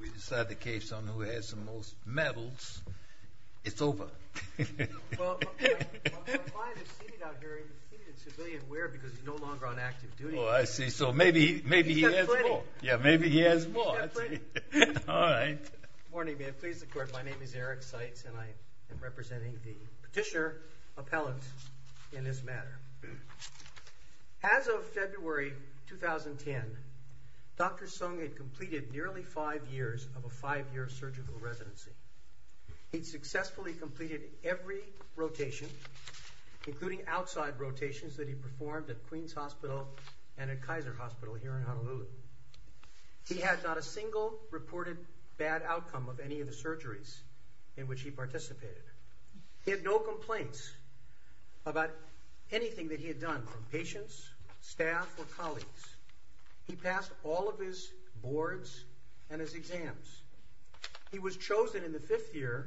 We decide the case on who has the most medals, it's over. Well, my client is seated out here in seated civilian wear because he's no longer on active duty. Oh, I see. So maybe he has more. He's got plenty. Yeah, maybe he has more. He's got plenty. All right. Good morning. May it please the Court. My name is Eric Seitz, and I am representing the petitioner appellant in this matter. As of February 2010, Dr. Sung had completed nearly five years of a five-year surgical residency. He'd successfully completed every rotation, including outside rotations that he performed at Queens Hospital and at Kaiser Hospital here in Honolulu. He had not a single reported bad outcome of any of the surgeries in which he participated. He had no complaints about anything that he had done from patients, staff, or colleagues. He passed all of his boards and his exams. He was chosen in the fifth year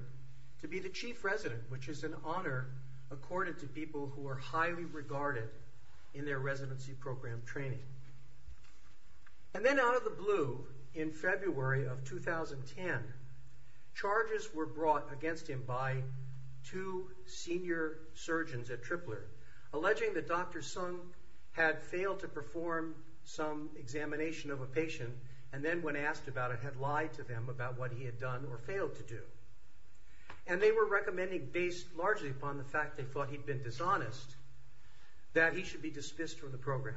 to be the chief resident, which is an honor according to people who are highly regarded in their residency program training. And then out of the blue, in February of 2010, charges were brought against him by two senior surgeons at Tripler, alleging that Dr. Sung had failed to perform some examination of a patient and then, when asked about it, had lied to them about what he had done or failed to do. And they were recommending, based largely upon the fact that they thought he'd been dishonest, that he should be dismissed from the program.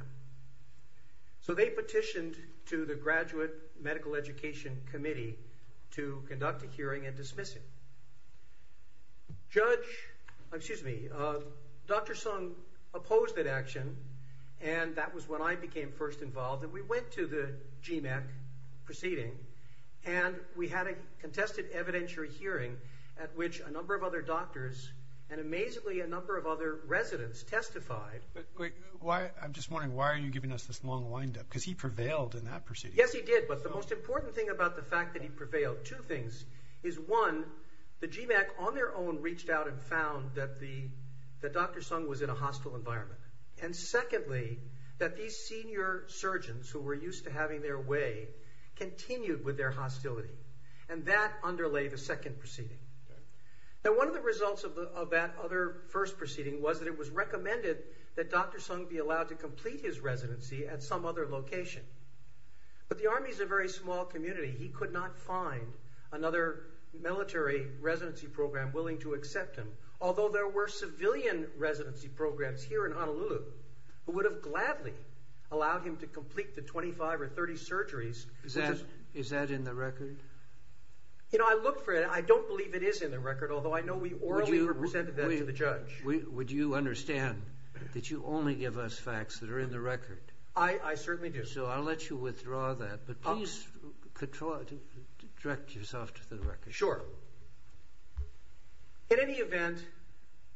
So they petitioned to the Graduate Medical Education Committee to conduct a hearing and dismiss him. Dr. Sung opposed that action, and that was when I became first involved. And we went to the GMAC proceeding, and we had a contested evidentiary hearing at which a number of other doctors and, amazingly, a number of other residents testified. I'm just wondering, why are you giving us this long wind-up? Because he prevailed in that proceeding. Yes, he did, but the most important thing about the fact that he prevailed, two things. One, the GMAC on their own reached out and found that Dr. Sung was in a hostile environment. And secondly, that these senior surgeons, who were used to having their way, continued with their hostility. And that underlay the second proceeding. Now, one of the results of that other first proceeding was that it was recommended that Dr. Sung be allowed to complete his residency at some other location. But the Army's a very small community. He could not find another military residency program willing to accept him. Although there were civilian residency programs here in Honolulu, who would have gladly allowed him to complete the 25 or 30 surgeries. Is that in the record? You know, I looked for it. I don't believe it is in the record, although I know we orally presented that to the judge. Would you understand that you only give us facts that are in the record? I certainly do. So I'll let you withdraw that, but please direct yourself to the record. Sure. In any event,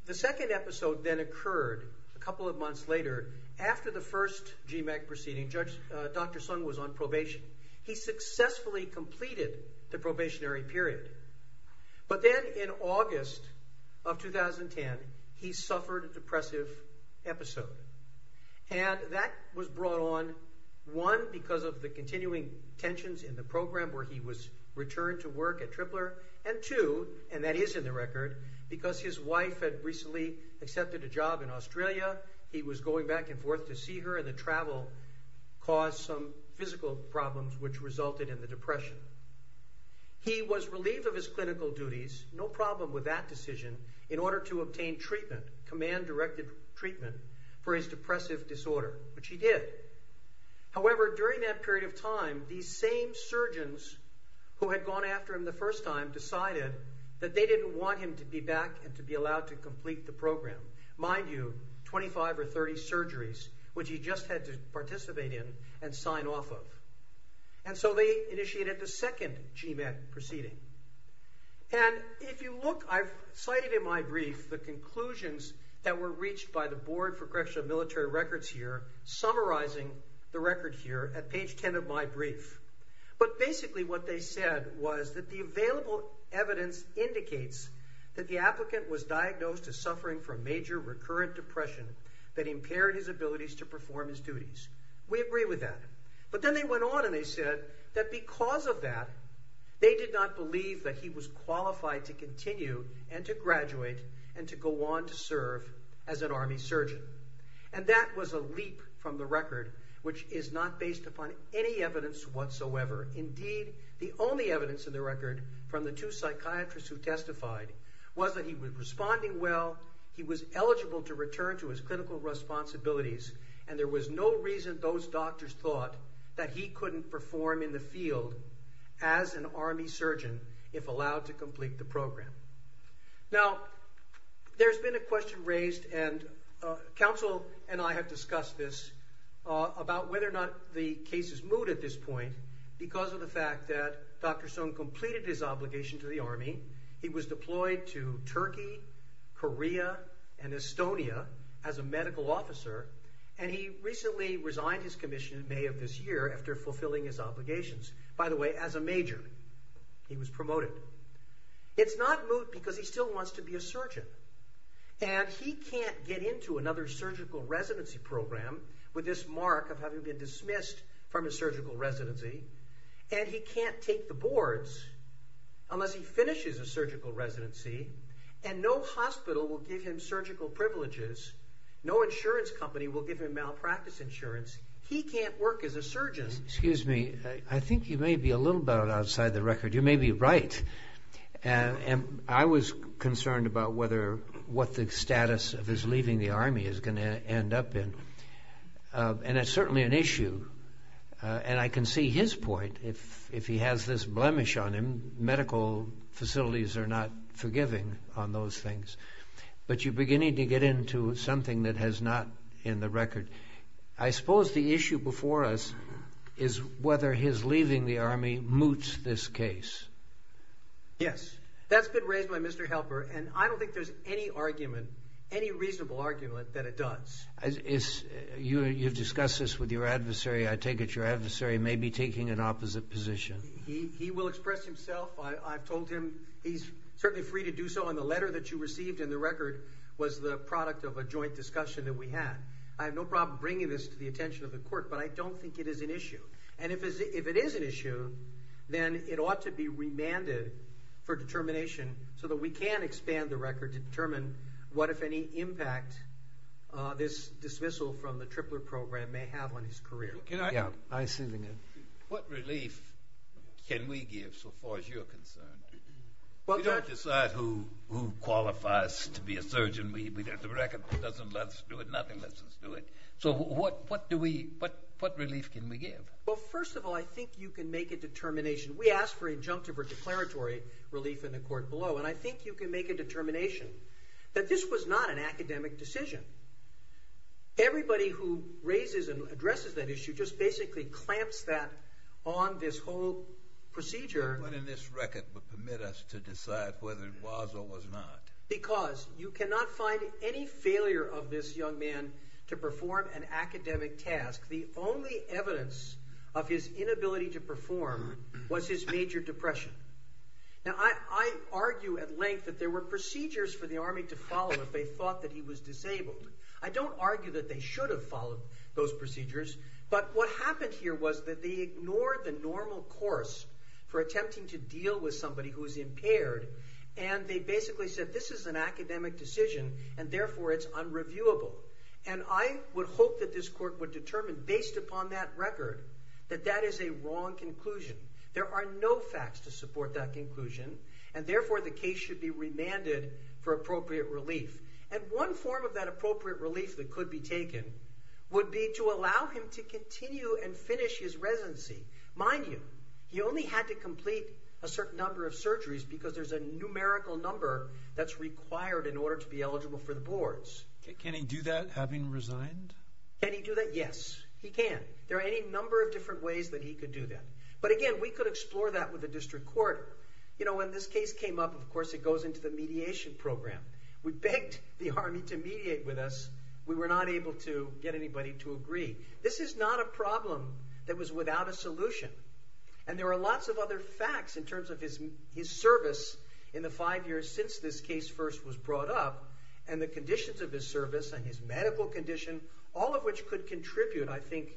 the second episode then occurred a couple of months later after the first GMAC proceeding. Dr. Sung was on probation. He successfully completed the probationary period. But then in August of 2010, he suffered a depressive episode. And that was brought on, one, because of the continuing tensions in the program where he was returned to work at Tripler, and two, and that is in the record, because his wife had recently accepted a job in Australia. He was going back and forth to see her, and the travel caused some physical problems which resulted in the depression. He was relieved of his clinical duties. No problem with that decision in order to obtain treatment, command directive treatment for his depressive disorder, which he did. However, during that period of time, these same surgeons who had gone after him the first time decided that they didn't want him to be back and to be allowed to complete the program. Mind you, 25 or 30 surgeries, which he just had to participate in and sign off of. And so they initiated the second GMAC proceeding. And if you look, I've cited in my brief the conclusions that were reached by the board for correctional military records here, summarizing the record here at page 10 of my brief. But basically what they said was that the available evidence indicates that the applicant was diagnosed as suffering from major recurrent depression that impaired his abilities to perform his duties. We agree with that. But then they went on and they said that because of that, they did not believe that he was qualified to continue and to graduate and to go on to serve as an Army surgeon. And that was a leap from the record, which is not based upon any evidence whatsoever. Indeed, the only evidence in the record from the two psychiatrists who testified was that he was responding well, he was eligible to return to his clinical responsibilities, and there was no reason those doctors thought that he couldn't perform in the field as an Army surgeon if allowed to complete the program. Now, there's been a question raised, and counsel and I have discussed this, about whether or not the case is moot at this point because of the fact that Dr. Sohn completed his obligation to the Army. He was deployed to Turkey, Korea, and Estonia as a medical officer, and he recently resigned his commission in May of this year after fulfilling his obligations, by the way, as a major. He was promoted. It's not moot because he still wants to be a surgeon, and he can't get into another surgical residency program with this mark of having been dismissed from his surgical residency, and he can't take the boards unless he finishes a surgical residency, and no hospital will give him surgical privileges. No insurance company will give him malpractice insurance. He can't work as a surgeon. Excuse me. I think you may be a little bit outside the record. You may be right, and I was concerned about what the status of his leaving the Army is going to end up in, and it's certainly an issue, and I can see his point. If he has this blemish on him, medical facilities are not forgiving on those things, but you're beginning to get into something that is not in the record. I suppose the issue before us is whether his leaving the Army moots this case. Yes. That's been raised by Mr. Helper, and I don't think there's any argument, any reasonable argument that it does. You've discussed this with your adversary. I take it your adversary may be taking an opposite position. He will express himself. I've told him he's certainly free to do so, and the letter that you received in the record was the product of a joint discussion that we had. I have no problem bringing this to the attention of the court, but I don't think it is an issue, and if it is an issue, then it ought to be remanded for determination so that we can expand the record or determine what, if any, impact this dismissal from the Tripler program may have on his career. Yeah, I see what you mean. What relief can we give so far as you're concerned? We don't decide who qualifies to be a surgeon. The record doesn't let us do it. Nothing lets us do it. So what relief can we give? Well, first of all, I think you can make a determination. We asked for injunctive or declaratory relief in the court below, and I think you can make a determination that this was not an academic decision. Everybody who raises and addresses that issue just basically clamps that on this whole procedure. What in this record would permit us to decide whether it was or was not? Because you cannot find any failure of this young man to perform an academic task. The only evidence of his inability to perform was his major depression. Now, I argue at length that there were procedures for the Army to follow if they thought that he was disabled. I don't argue that they should have followed those procedures, but what happened here was that they ignored the normal course for attempting to deal with somebody who is impaired, and they basically said this is an academic decision, and therefore it's unreviewable. And I would hope that this court would determine, based upon that record, that that is a wrong conclusion. There are no facts to support that conclusion, and therefore the case should be remanded for appropriate relief. And one form of that appropriate relief that could be taken would be to allow him to continue and finish his residency. Mind you, he only had to complete a certain number of surgeries because there's a numerical number that's required in order to be eligible for the boards. Can he do that having resigned? Can he do that? Yes, he can. There are any number of different ways that he could do that. But again, we could explore that with the district court. You know, when this case came up, of course, it goes into the mediation program. We begged the Army to mediate with us. We were not able to get anybody to agree. This is not a problem that was without a solution, and there are lots of other facts in terms of his service in the five years since this case first was brought up and the conditions of his service and his medical condition, all of which could contribute, I think,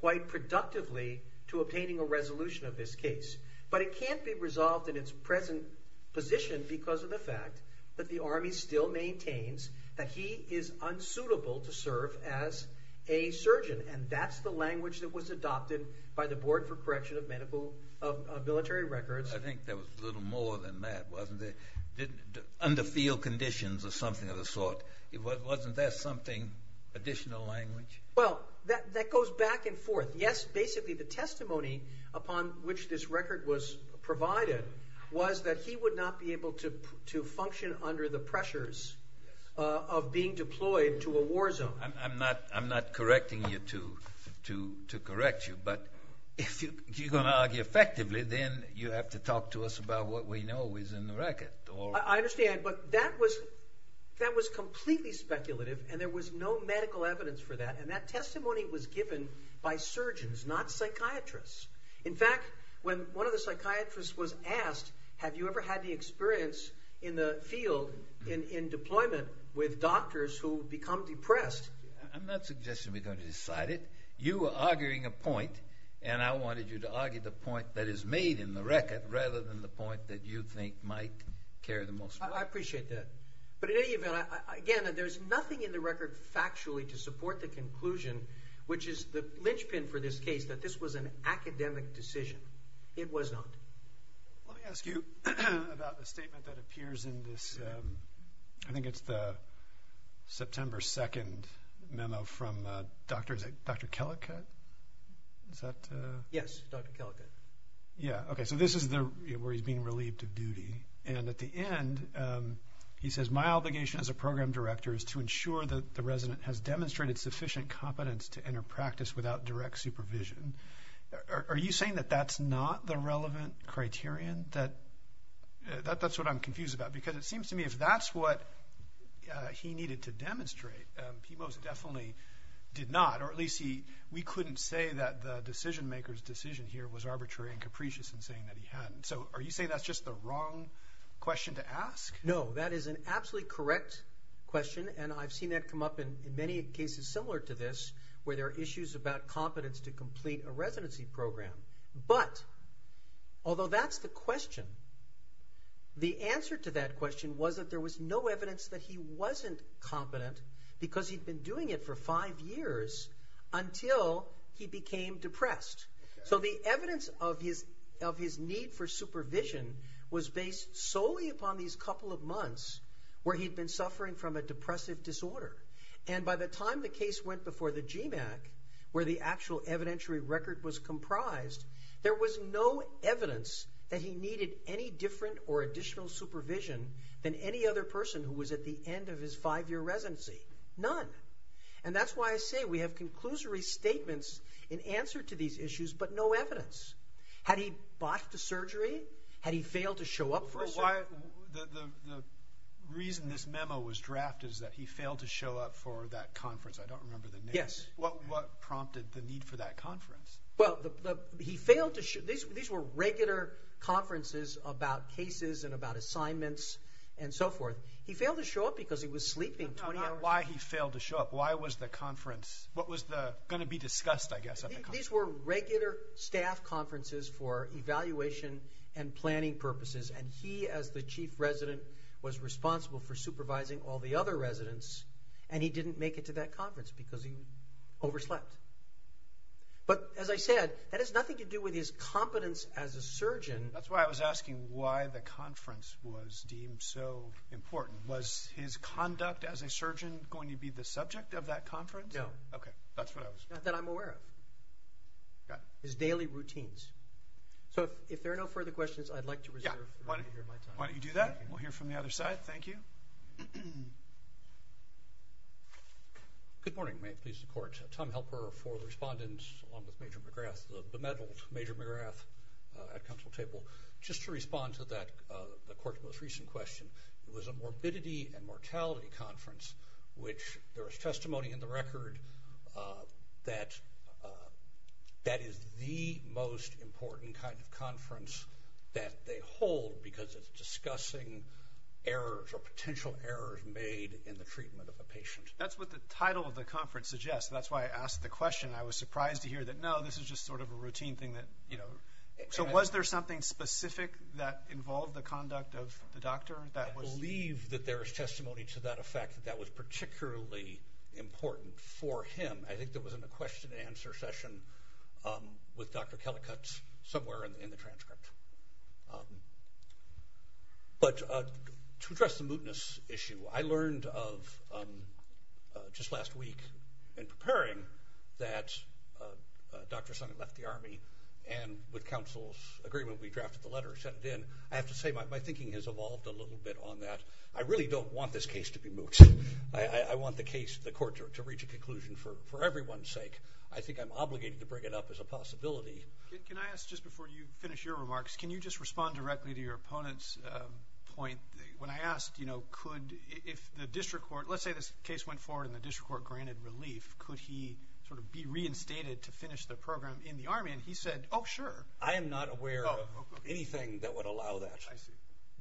quite productively to obtaining a resolution of this case. But it can't be resolved in its present position because of the fact that the Army still maintains that he is unsuitable to serve as a surgeon, and that's the language that was adopted by the Board for Correction of Military Records. I think there was a little more than that, wasn't there? Under field conditions or something of the sort, wasn't there something, additional language? Well, that goes back and forth. Yes, basically the testimony upon which this record was provided was that he would not be able to function under the pressures of being deployed to a war zone. I'm not correcting you to correct you, but if you're going to argue effectively, then you have to talk to us about what we know is in the record. I understand, but that was completely speculative, and there was no medical evidence for that, and that testimony was given by surgeons, not psychiatrists. In fact, when one of the psychiatrists was asked, have you ever had any experience in the field, in deployment, with doctors who become depressed? I'm not suggesting we're going to decide it. You were arguing a point, and I wanted you to argue the point that is made in the record rather than the point that you think might carry the most weight. I appreciate that, but in any event, again, there's nothing in the record factually to support the conclusion, which is the linchpin for this case, that this was an academic decision. It was not. Let me ask you about the statement that appears in this. I think it's the September 2nd memo from Dr. Kellicott. Yes, Dr. Kellicott. Okay, so this is where he's being relieved of duty, and at the end he says, my obligation as a program director is to ensure that the resident has demonstrated sufficient competence to enter practice without direct supervision. Are you saying that that's not the relevant criterion? That's what I'm confused about, because it seems to me if that's what he needed to demonstrate, he most definitely did not, or at least we couldn't say that the decision-maker's decision here was arbitrary and capricious in saying that he hadn't. So are you saying that's just the wrong question to ask? No, that is an absolutely correct question, and I've seen that come up in many cases similar to this, where there are issues about competence to complete a residency program. But although that's the question, the answer to that question was that there was no evidence that he wasn't competent because he'd been doing it for five years until he became depressed. So the evidence of his need for supervision was based solely upon these couple of months where he'd been suffering from a depressive disorder. And by the time the case went before the GMAC, where the actual evidentiary record was comprised, there was no evidence that he needed any different or additional supervision than any other person who was at the end of his five-year residency. None. And that's why I say we have conclusory statements in answer to these issues, but no evidence. Had he bought the surgery? Had he failed to show up for a surgery? The reason this memo was drafted is that he failed to show up for that conference. I don't remember the name. Yes. What prompted the need for that conference? These were regular conferences about cases and about assignments and so forth. He failed to show up because he was sleeping 20 hours. Why he failed to show up? Why was the conference going to be discussed, I guess, at the conference? These were regular staff conferences for evaluation and planning purposes, and he, as the chief resident, was responsible for supervising all the other residents, and he didn't make it to that conference because he overslept. But, as I said, that has nothing to do with his competence as a surgeon. That's why I was asking why the conference was deemed so important. Was his conduct as a surgeon going to be the subject of that conference? No. Okay. That's what I was— Not that I'm aware of. Got it. His daily routines. So if there are no further questions, I'd like to reserve the rest of my time. Why don't you do that? We'll hear from the other side. Thank you. Good morning. May I please report to Tom Helper for the respondents, along with Major McGrath, the medal of Major McGrath at Council Table, just to respond to the court's most recent question. It was a morbidity and mortality conference, which there was testimony in the record that that is the most important kind of conference that they hold because it's discussing errors or potential errors made in the treatment of a patient. That's what the title of the conference suggests. That's why I asked the question. I was surprised to hear that, no, this is just sort of a routine thing that— So was there something specific that involved the conduct of the doctor that was— I believe that there is testimony to that effect that that was particularly important for him. I think there was a question and answer session with Dr. Kellicutt somewhere in the transcript. But to address the mootness issue, I learned of, just last week in preparing, that Dr. Sonnen left the Army, and with counsel's agreement, we drafted the letter and sent it in. I have to say my thinking has evolved a little bit on that. I really don't want this case to be moot. I want the case, the court, to reach a conclusion for everyone's sake. I think I'm obligated to bring it up as a possibility. Can I ask, just before you finish your remarks, can you just respond directly to your opponent's point? When I asked, you know, could—if the district court— let's say this case went forward and the district court granted relief, could he sort of be reinstated to finish the program in the Army, and he said, oh, sure. I am not aware of anything that would allow that.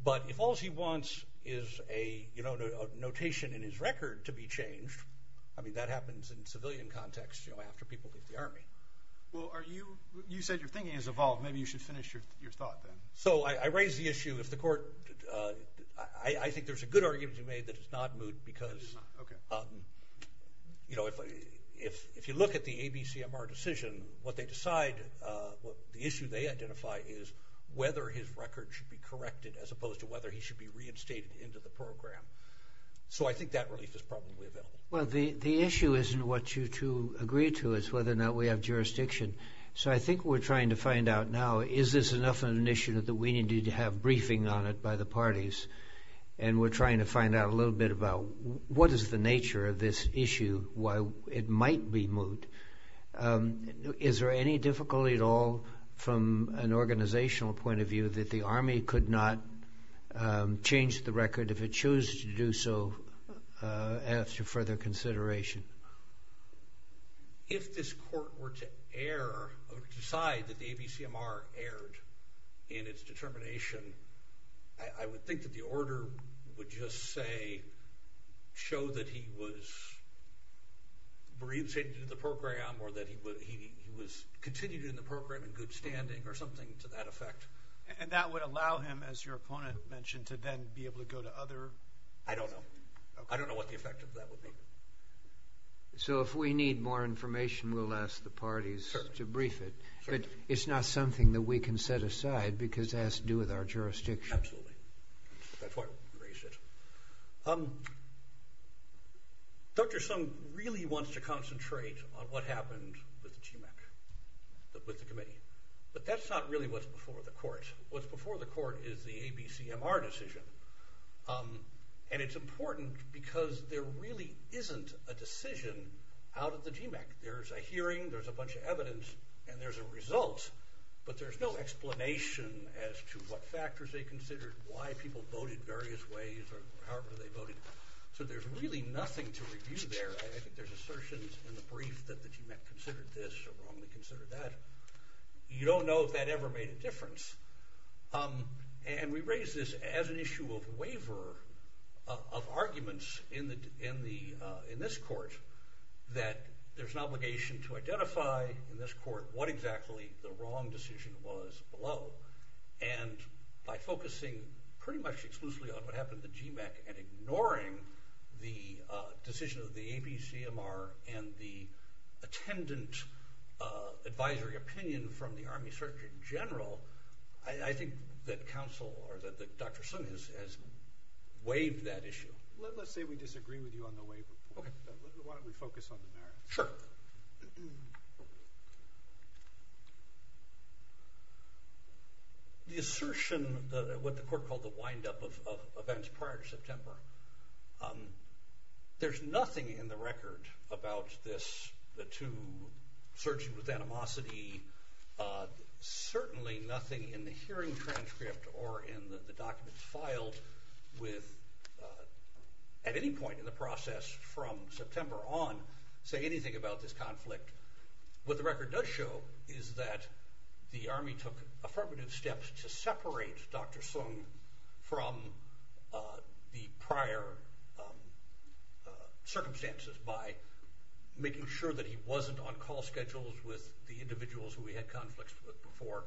But if all he wants is a notation in his record to be changed, I mean, that happens in civilian context, you know, after people leave the Army. Well, are you—you said your thinking has evolved. Maybe you should finish your thought then. So I raise the issue if the court—I think there's a good argument to be made that it's not moot, because, you know, if you look at the ABCMR decision, what they decide, the issue they identify is whether his record should be corrected as opposed to whether he should be reinstated into the program. So I think that relief is probably available. Well, the issue isn't what you two agree to. It's whether or not we have jurisdiction. So I think we're trying to find out now is this enough of an issue that we need to have briefing on it by the parties, and we're trying to find out a little bit about what is the nature of this issue, why it might be moot. Is there any difficulty at all from an organizational point of view that the Army could not change the record if it chose to do so after further consideration? If this court were to air or decide that the ABCMR aired in its determination, I would think that the order would just say—show that he was reinstated into the program or that he was continued in the program in good standing or something to that effect. And that would allow him, as your opponent mentioned, to then be able to go to other— I don't know. I don't know what the effect of that would be. So if we need more information, we'll ask the parties to brief it. But it's not something that we can set aside because it has to do with our jurisdiction. Absolutely. That's why we raised it. Dr. Sung really wants to concentrate on what happened with the GMAC, with the committee. But that's not really what's before the court. What's before the court is the ABCMR decision. And it's important because there really isn't a decision out of the GMAC. There's a hearing, there's a bunch of evidence, and there's a result, but there's no explanation as to what factors they considered, why people voted various ways or however they voted. So there's really nothing to review there. I think there's assertions in the brief that the GMAC considered this or wrongly considered that. You don't know if that ever made a difference. And we raised this as an issue of waiver of arguments in this court that there's an obligation to identify in this court what exactly the wrong decision was below. And by focusing pretty much exclusively on what happened at the GMAC and ignoring the decision of the ABCMR and the attendant advisory opinion from the Army Surgeon General, I think that counsel or that Dr. Sung has waived that issue. Let's say we disagree with you on the waiver. Okay. Why don't we focus on the merits? Sure. The assertion, what the court called the windup of events prior to September, there's nothing in the record about this, the two surgeons with animosity, certainly nothing in the hearing transcript or in the documents filed with, at any point in the process from September on, say anything about this conflict. What the record does show is that the Army took affirmative steps to separate Dr. Sung from the prior circumstances by making sure that he wasn't on call schedules with the individuals who he had conflicts with before,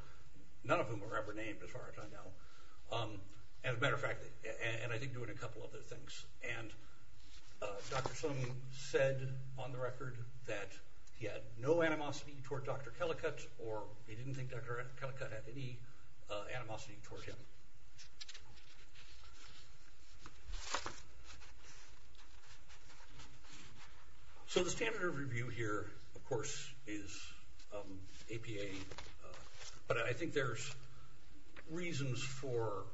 none of whom were ever named as far as I know. As a matter of fact, and I think doing a couple of other things. And Dr. Sung said on the record that he had no animosity toward Dr. Kellicutt or he didn't think Dr. Kellicutt had any animosity toward him. So the standard of review here, of course, is APA, but I think there's reasons for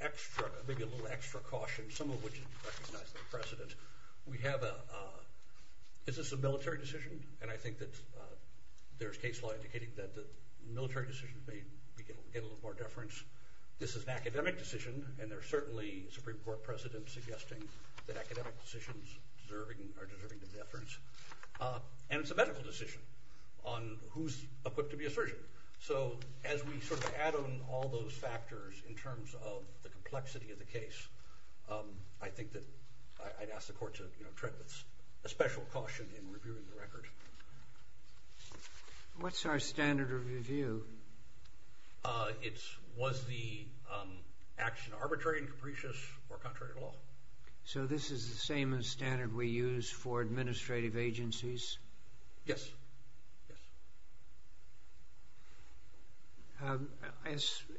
extra, maybe a little extra caution, some of which is recognized by the President. We have a, is this a military decision? And I think that there's case law indicating that military decisions may get a little more deference. This is an academic decision, and there's certainly a Supreme Court precedent suggesting that academic decisions are deserving of deference. And it's a medical decision on who's equipped to be a surgeon. So as we sort of add on all those factors in terms of the complexity of the case, I think that I'd ask the Court to tread with a special caution in reviewing the record. What's our standard of review? It's was the action arbitrary and capricious or contrary at all? So this is the same standard we use for administrative agencies? Yes.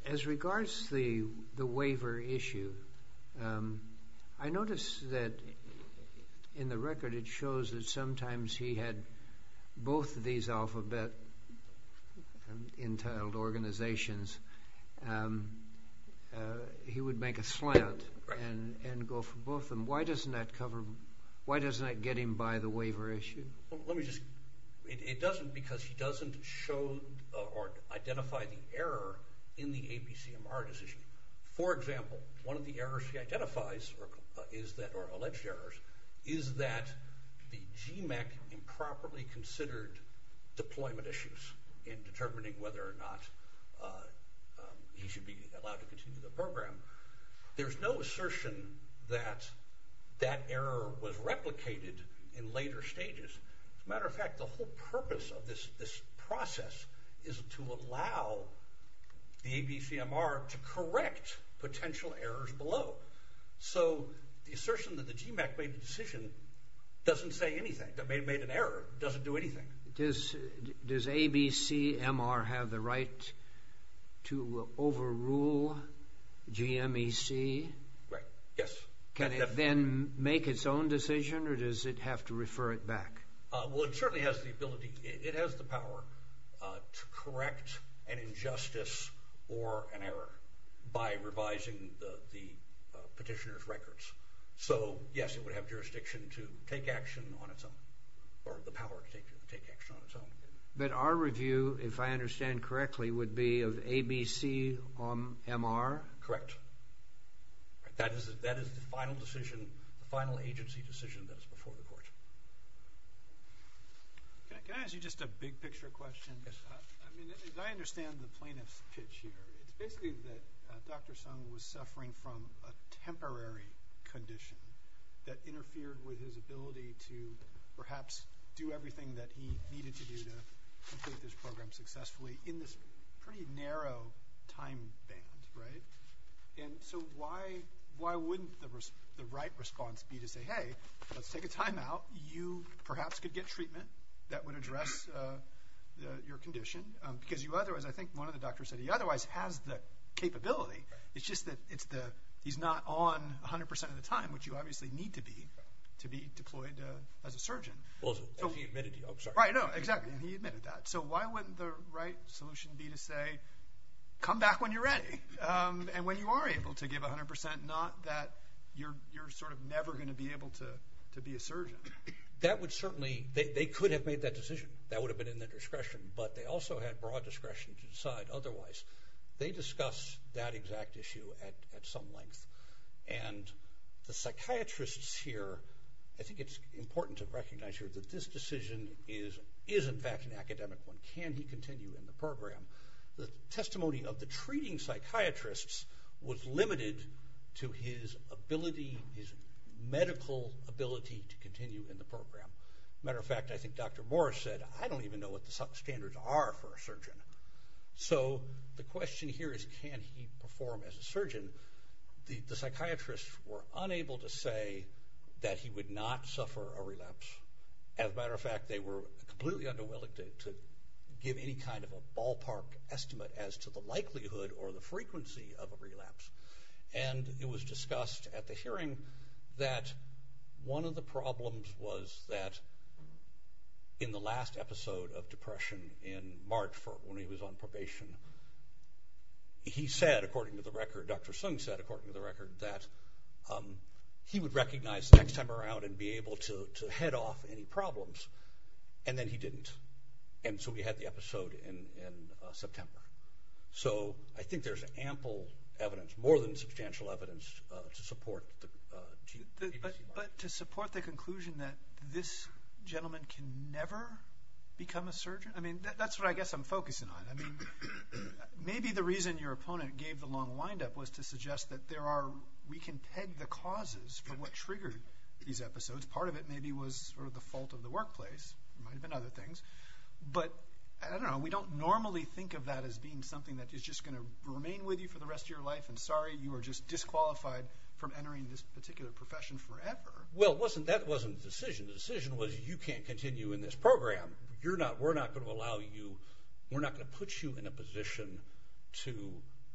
As regards to the waiver issue, I notice that in the record it shows that sometimes he had both of these alphabet-entitled organizations. He would make a slant and go for both of them. Why doesn't that cover, why doesn't that get him by the waiver issue? Well, let me just, it doesn't because he doesn't show or identify the error in the APCMR decision. For example, one of the errors he identifies is that, or alleged errors, is that the GMAC improperly considered deployment issues in determining whether or not he should be allowed to continue the program. There's no assertion that that error was replicated in later stages. As a matter of fact, the whole purpose of this process is to allow the ABCMR to correct potential errors below. So the assertion that the GMAC made the decision doesn't say anything. It may have made an error. It doesn't do anything. Does ABCMR have the right to overrule GMAC? Right, yes. Can it then make its own decision or does it have to refer it back? Well, it certainly has the ability, it has the power to correct an injustice or an error by revising the petitioner's records. So, yes, it would have jurisdiction to take action on its own, or the power to take action on its own. But our review, if I understand correctly, would be of ABCMR? Correct. That is the final decision, the final agency decision that is before the court. Can I ask you just a big picture question? Yes. I mean, as I understand the plaintiff's pitch here, it's basically that Dr. Sung was suffering from a temporary condition that interfered with his ability to perhaps do everything that he needed to do to complete this program successfully in this pretty narrow time frame, right? And so why wouldn't the right response be to say, hey, let's take a timeout. You perhaps could get treatment that would address your condition because you otherwise, I think one of the doctors said he otherwise has the capability. It's just that he's not on 100 percent of the time, which you obviously need to be to be deployed as a surgeon. Well, he admitted that. Right, no, exactly. He admitted that. So why wouldn't the right solution be to say, come back when you're ready? And when you are able to give 100 percent, not that you're sort of never going to be able to be a surgeon. That would certainly, they could have made that decision. That would have been in their discretion, but they also had broad discretion to decide otherwise. They discussed that exact issue at some length. And the psychiatrists here, I think it's important to recognize here that this decision is in fact an academic one. Can he continue in the program? The testimony of the treating psychiatrists was limited to his ability, his medical ability to continue in the program. As a matter of fact, I think Dr. Morris said, I don't even know what the standards are for a surgeon. So the question here is can he perform as a surgeon? The psychiatrists were unable to say that he would not suffer a relapse. As a matter of fact, they were completely unwilling to give any kind of a ballpark estimate as to the likelihood or the frequency of a relapse. And it was discussed at the hearing that one of the problems was that in the last episode of depression in March when he was on probation, he said, according to the record, Dr. Sung said, according to the record, that he would recognize the next time around and be able to head off any problems. And then he didn't. And so we had the episode in September. So I think there's ample evidence, more than substantial evidence, to support the conclusion that this gentleman can never become a surgeon. I mean, that's what I guess I'm focusing on. I mean, maybe the reason your opponent gave the long windup was to suggest that we can peg the causes for what triggered these episodes. Part of it maybe was sort of the fault of the workplace. It might have been other things. But I don't know. We don't normally think of that as being something that is just going to remain with you for the rest of your life and sorry, you are just disqualified from entering this particular profession forever. Well, that wasn't the decision. The decision was you can't continue in this program. We're not going to allow you, we're not going to put you in a position to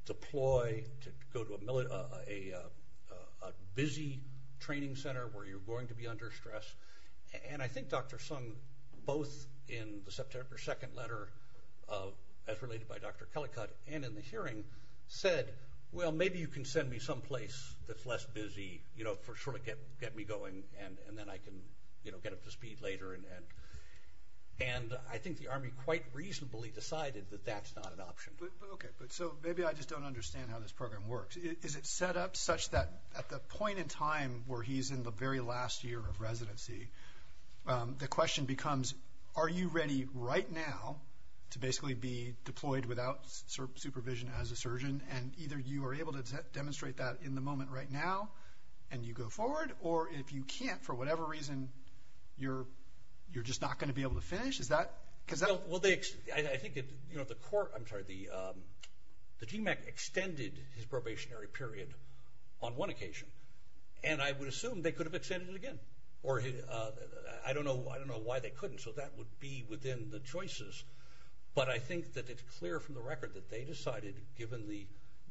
deploy, to go to a busy training center where you're going to be under stress. And I think Dr. Sung, both in the September 2nd letter, as related by Dr. Kellycutt, and in the hearing said, well, maybe you can send me someplace that's less busy, you know, get up to speed later, and I think the Army quite reasonably decided that that's not an option. Okay. But so maybe I just don't understand how this program works. Is it set up such that at the point in time where he's in the very last year of residency, the question becomes are you ready right now to basically be deployed without supervision as a surgeon, and either you are able to demonstrate that in the moment right now and you go forward, or if you can't, for whatever reason, you're just not going to be able to finish? Well, I think the court, I'm sorry, the GMAC extended his probationary period on one occasion, and I would assume they could have extended it again. I don't know why they couldn't, so that would be within the choices, but I think that it's clear from the record that they decided, given the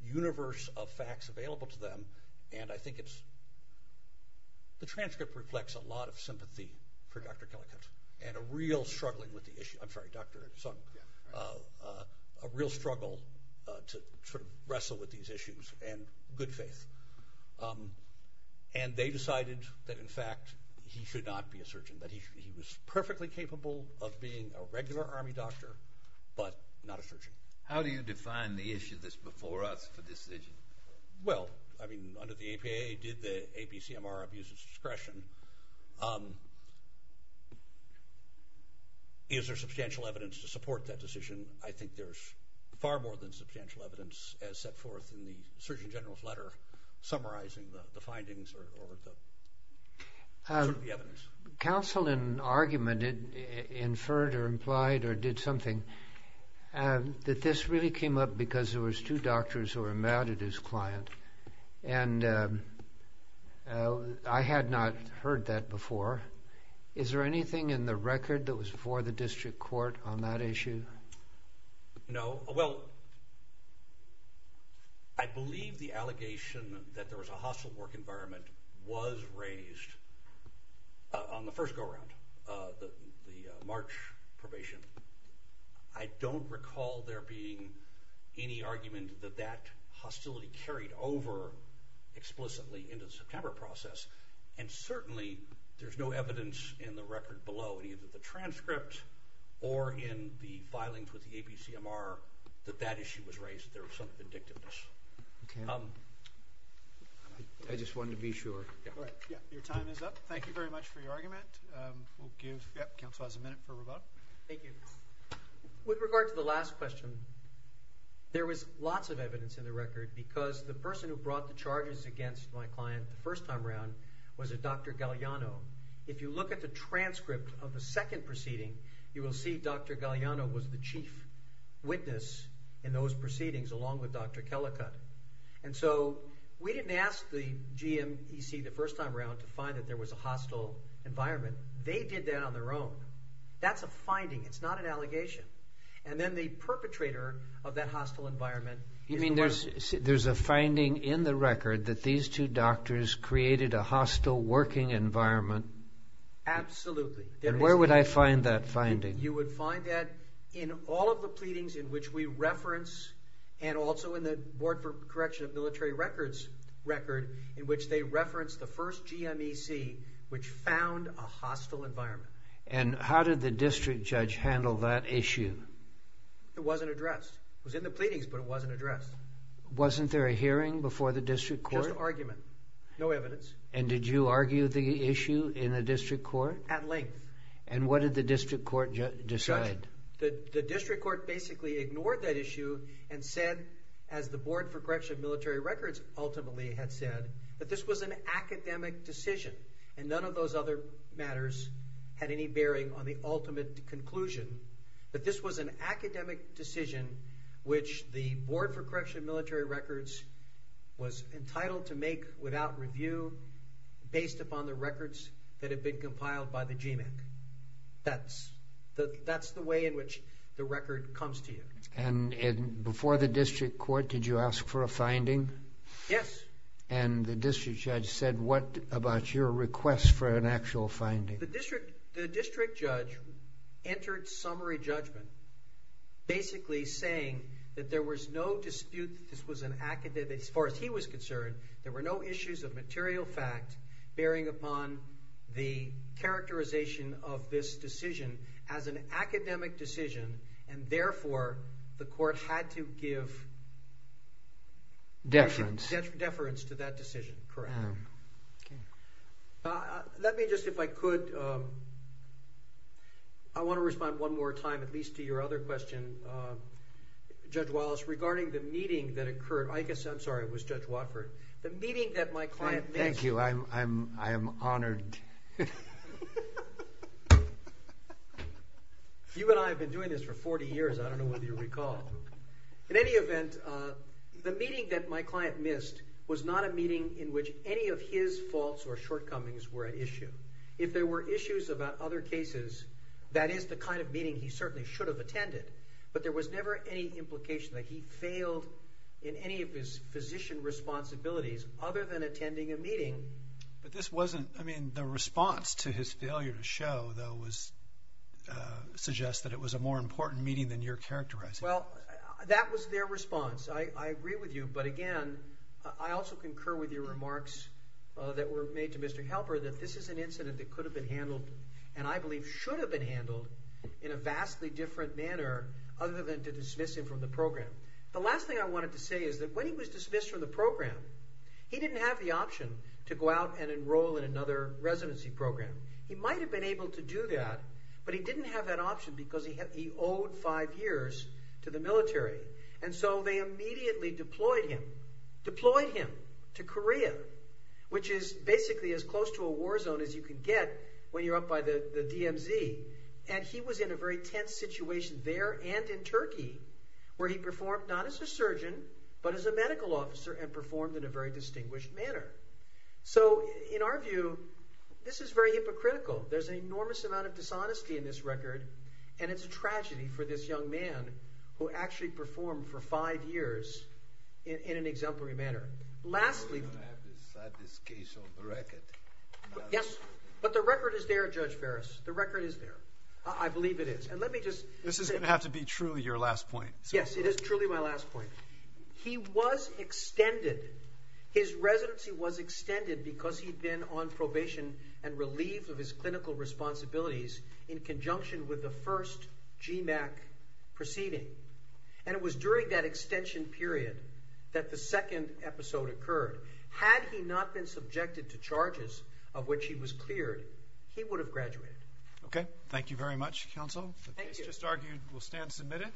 universe of facts available to them, and I think it's the transcript reflects a lot of sympathy for Dr. Keller-Kent, and a real struggling with the issue. I'm sorry, Dr. Sung, a real struggle to sort of wrestle with these issues and good faith, and they decided that, in fact, he should not be a surgeon, that he was perfectly capable of being a regular Army doctor but not a surgeon. How do you define the issue that's before us for this issue? Well, I mean, under the APAA, did the APCMR abuse of discretion? Is there substantial evidence to support that decision? I think there's far more than substantial evidence as set forth in the Surgeon General's letter summarizing the findings or the evidence. Counsel, in argument, inferred or implied or did something that this really came up because there was two doctors who were mad at his client, and I had not heard that before. Is there anything in the record that was before the district court on that issue? No. Well, I believe the allegation that there was a hostile work environment was raised on the first go-around, the March probation. I don't recall there being any argument that that hostility carried over explicitly into the September process, and certainly there's no evidence in the record below, either the transcript or in the filings with the APCMR, that that issue was raised, that there was some vindictiveness. I just wanted to be sure. Your time is up. Thank you very much for your argument. Counsel has a minute for rebuttal. Thank you. With regard to the last question, there was lots of evidence in the record because the person who brought the charges against my client the first time around was a Dr. Galliano. If you look at the transcript of the second proceeding, you will see Dr. Galliano was the chief witness in those proceedings along with Dr. Kellicott. And so we didn't ask the GMEC the first time around to find that there was a hostile environment. They did that on their own. That's a finding. It's not an allegation. And then the perpetrator of that hostile environment is the one… You mean there's a finding in the record that these two doctors created a hostile working environment? Absolutely. And where would I find that finding? You would find that in all of the pleadings in which we reference and also in the Board for Correction of Military Records record in which they reference the first GMEC which found a hostile environment. And how did the district judge handle that issue? It wasn't addressed. It was in the pleadings, but it wasn't addressed. Wasn't there a hearing before the district court? Just argument. No evidence. And did you argue the issue in the district court? At length. And what did the district court decide? The district court basically ignored that issue and said, as the Board for Correction of Military Records ultimately had said, that this was an academic decision and none of those other matters had any bearing on the ultimate conclusion, that this was an academic decision which the Board for Correction of Military Records was entitled to make without review based upon the records that had been compiled by the GMEC. That's the way in which the record comes to you. And before the district court, did you ask for a finding? Yes. And the district judge said what about your request for an actual finding? The district judge entered summary judgment basically saying that there was no dispute that this was an academic, as far as he was concerned, there were no issues of material fact bearing upon the characterization of this decision as an academic decision, and therefore the court had to give deference to that decision. Correct. Let me just, if I could, I want to respond one more time at least to your other question. Judge Wallace, regarding the meeting that occurred, I guess, I'm sorry, it was Judge Watford, the meeting that my client missed. Thank you. I am honored. You and I have been doing this for 40 years. I don't know whether you recall. In any event, the meeting that my client missed was not a meeting in which any of his faults or shortcomings were at issue. If there were issues about other cases, that is the kind of meeting he certainly should have attended, but there was never any implication that he failed in any of his physician responsibilities other than attending a meeting. But this wasn't, I mean, the response to his failure to show, though, suggests that it was a more important meeting than your characterization. Well, that was their response. I agree with you, but, again, I also concur with your remarks that were made to Mr. Halper that this is an incident that could have been handled and I believe should have been handled in a vastly different manner other than to dismiss him from the program. The last thing I wanted to say is that when he was dismissed from the program, he didn't have the option to go out and enroll in another residency program. He might have been able to do that, but he didn't have that option because he owed five years to the military, and so they immediately deployed him to Korea, which is basically as close to a war zone as you can get when you're up by the DMZ. And he was in a very tense situation there and in Turkey where he performed not as a surgeon but as a medical officer and performed in a very distinguished manner. So, in our view, this is very hypocritical. There's an enormous amount of dishonesty in this record, and it's a tragedy for this young man who actually performed for five years in an exemplary manner. We're going to have to decide this case on the record. Yes, but the record is there, Judge Barras. The record is there. I believe it is. This is going to have to be truly your last point. Yes, it is truly my last point. He was extended. His residency was extended because he'd been on probation and relieved of his clinical responsibilities in conjunction with the first GMAC proceeding. And it was during that extension period that the second episode occurred. Had he not been subjected to charges of which he was cleared, he would have graduated. Okay. Thank you very much, counsel. The case just argued will stand submitted.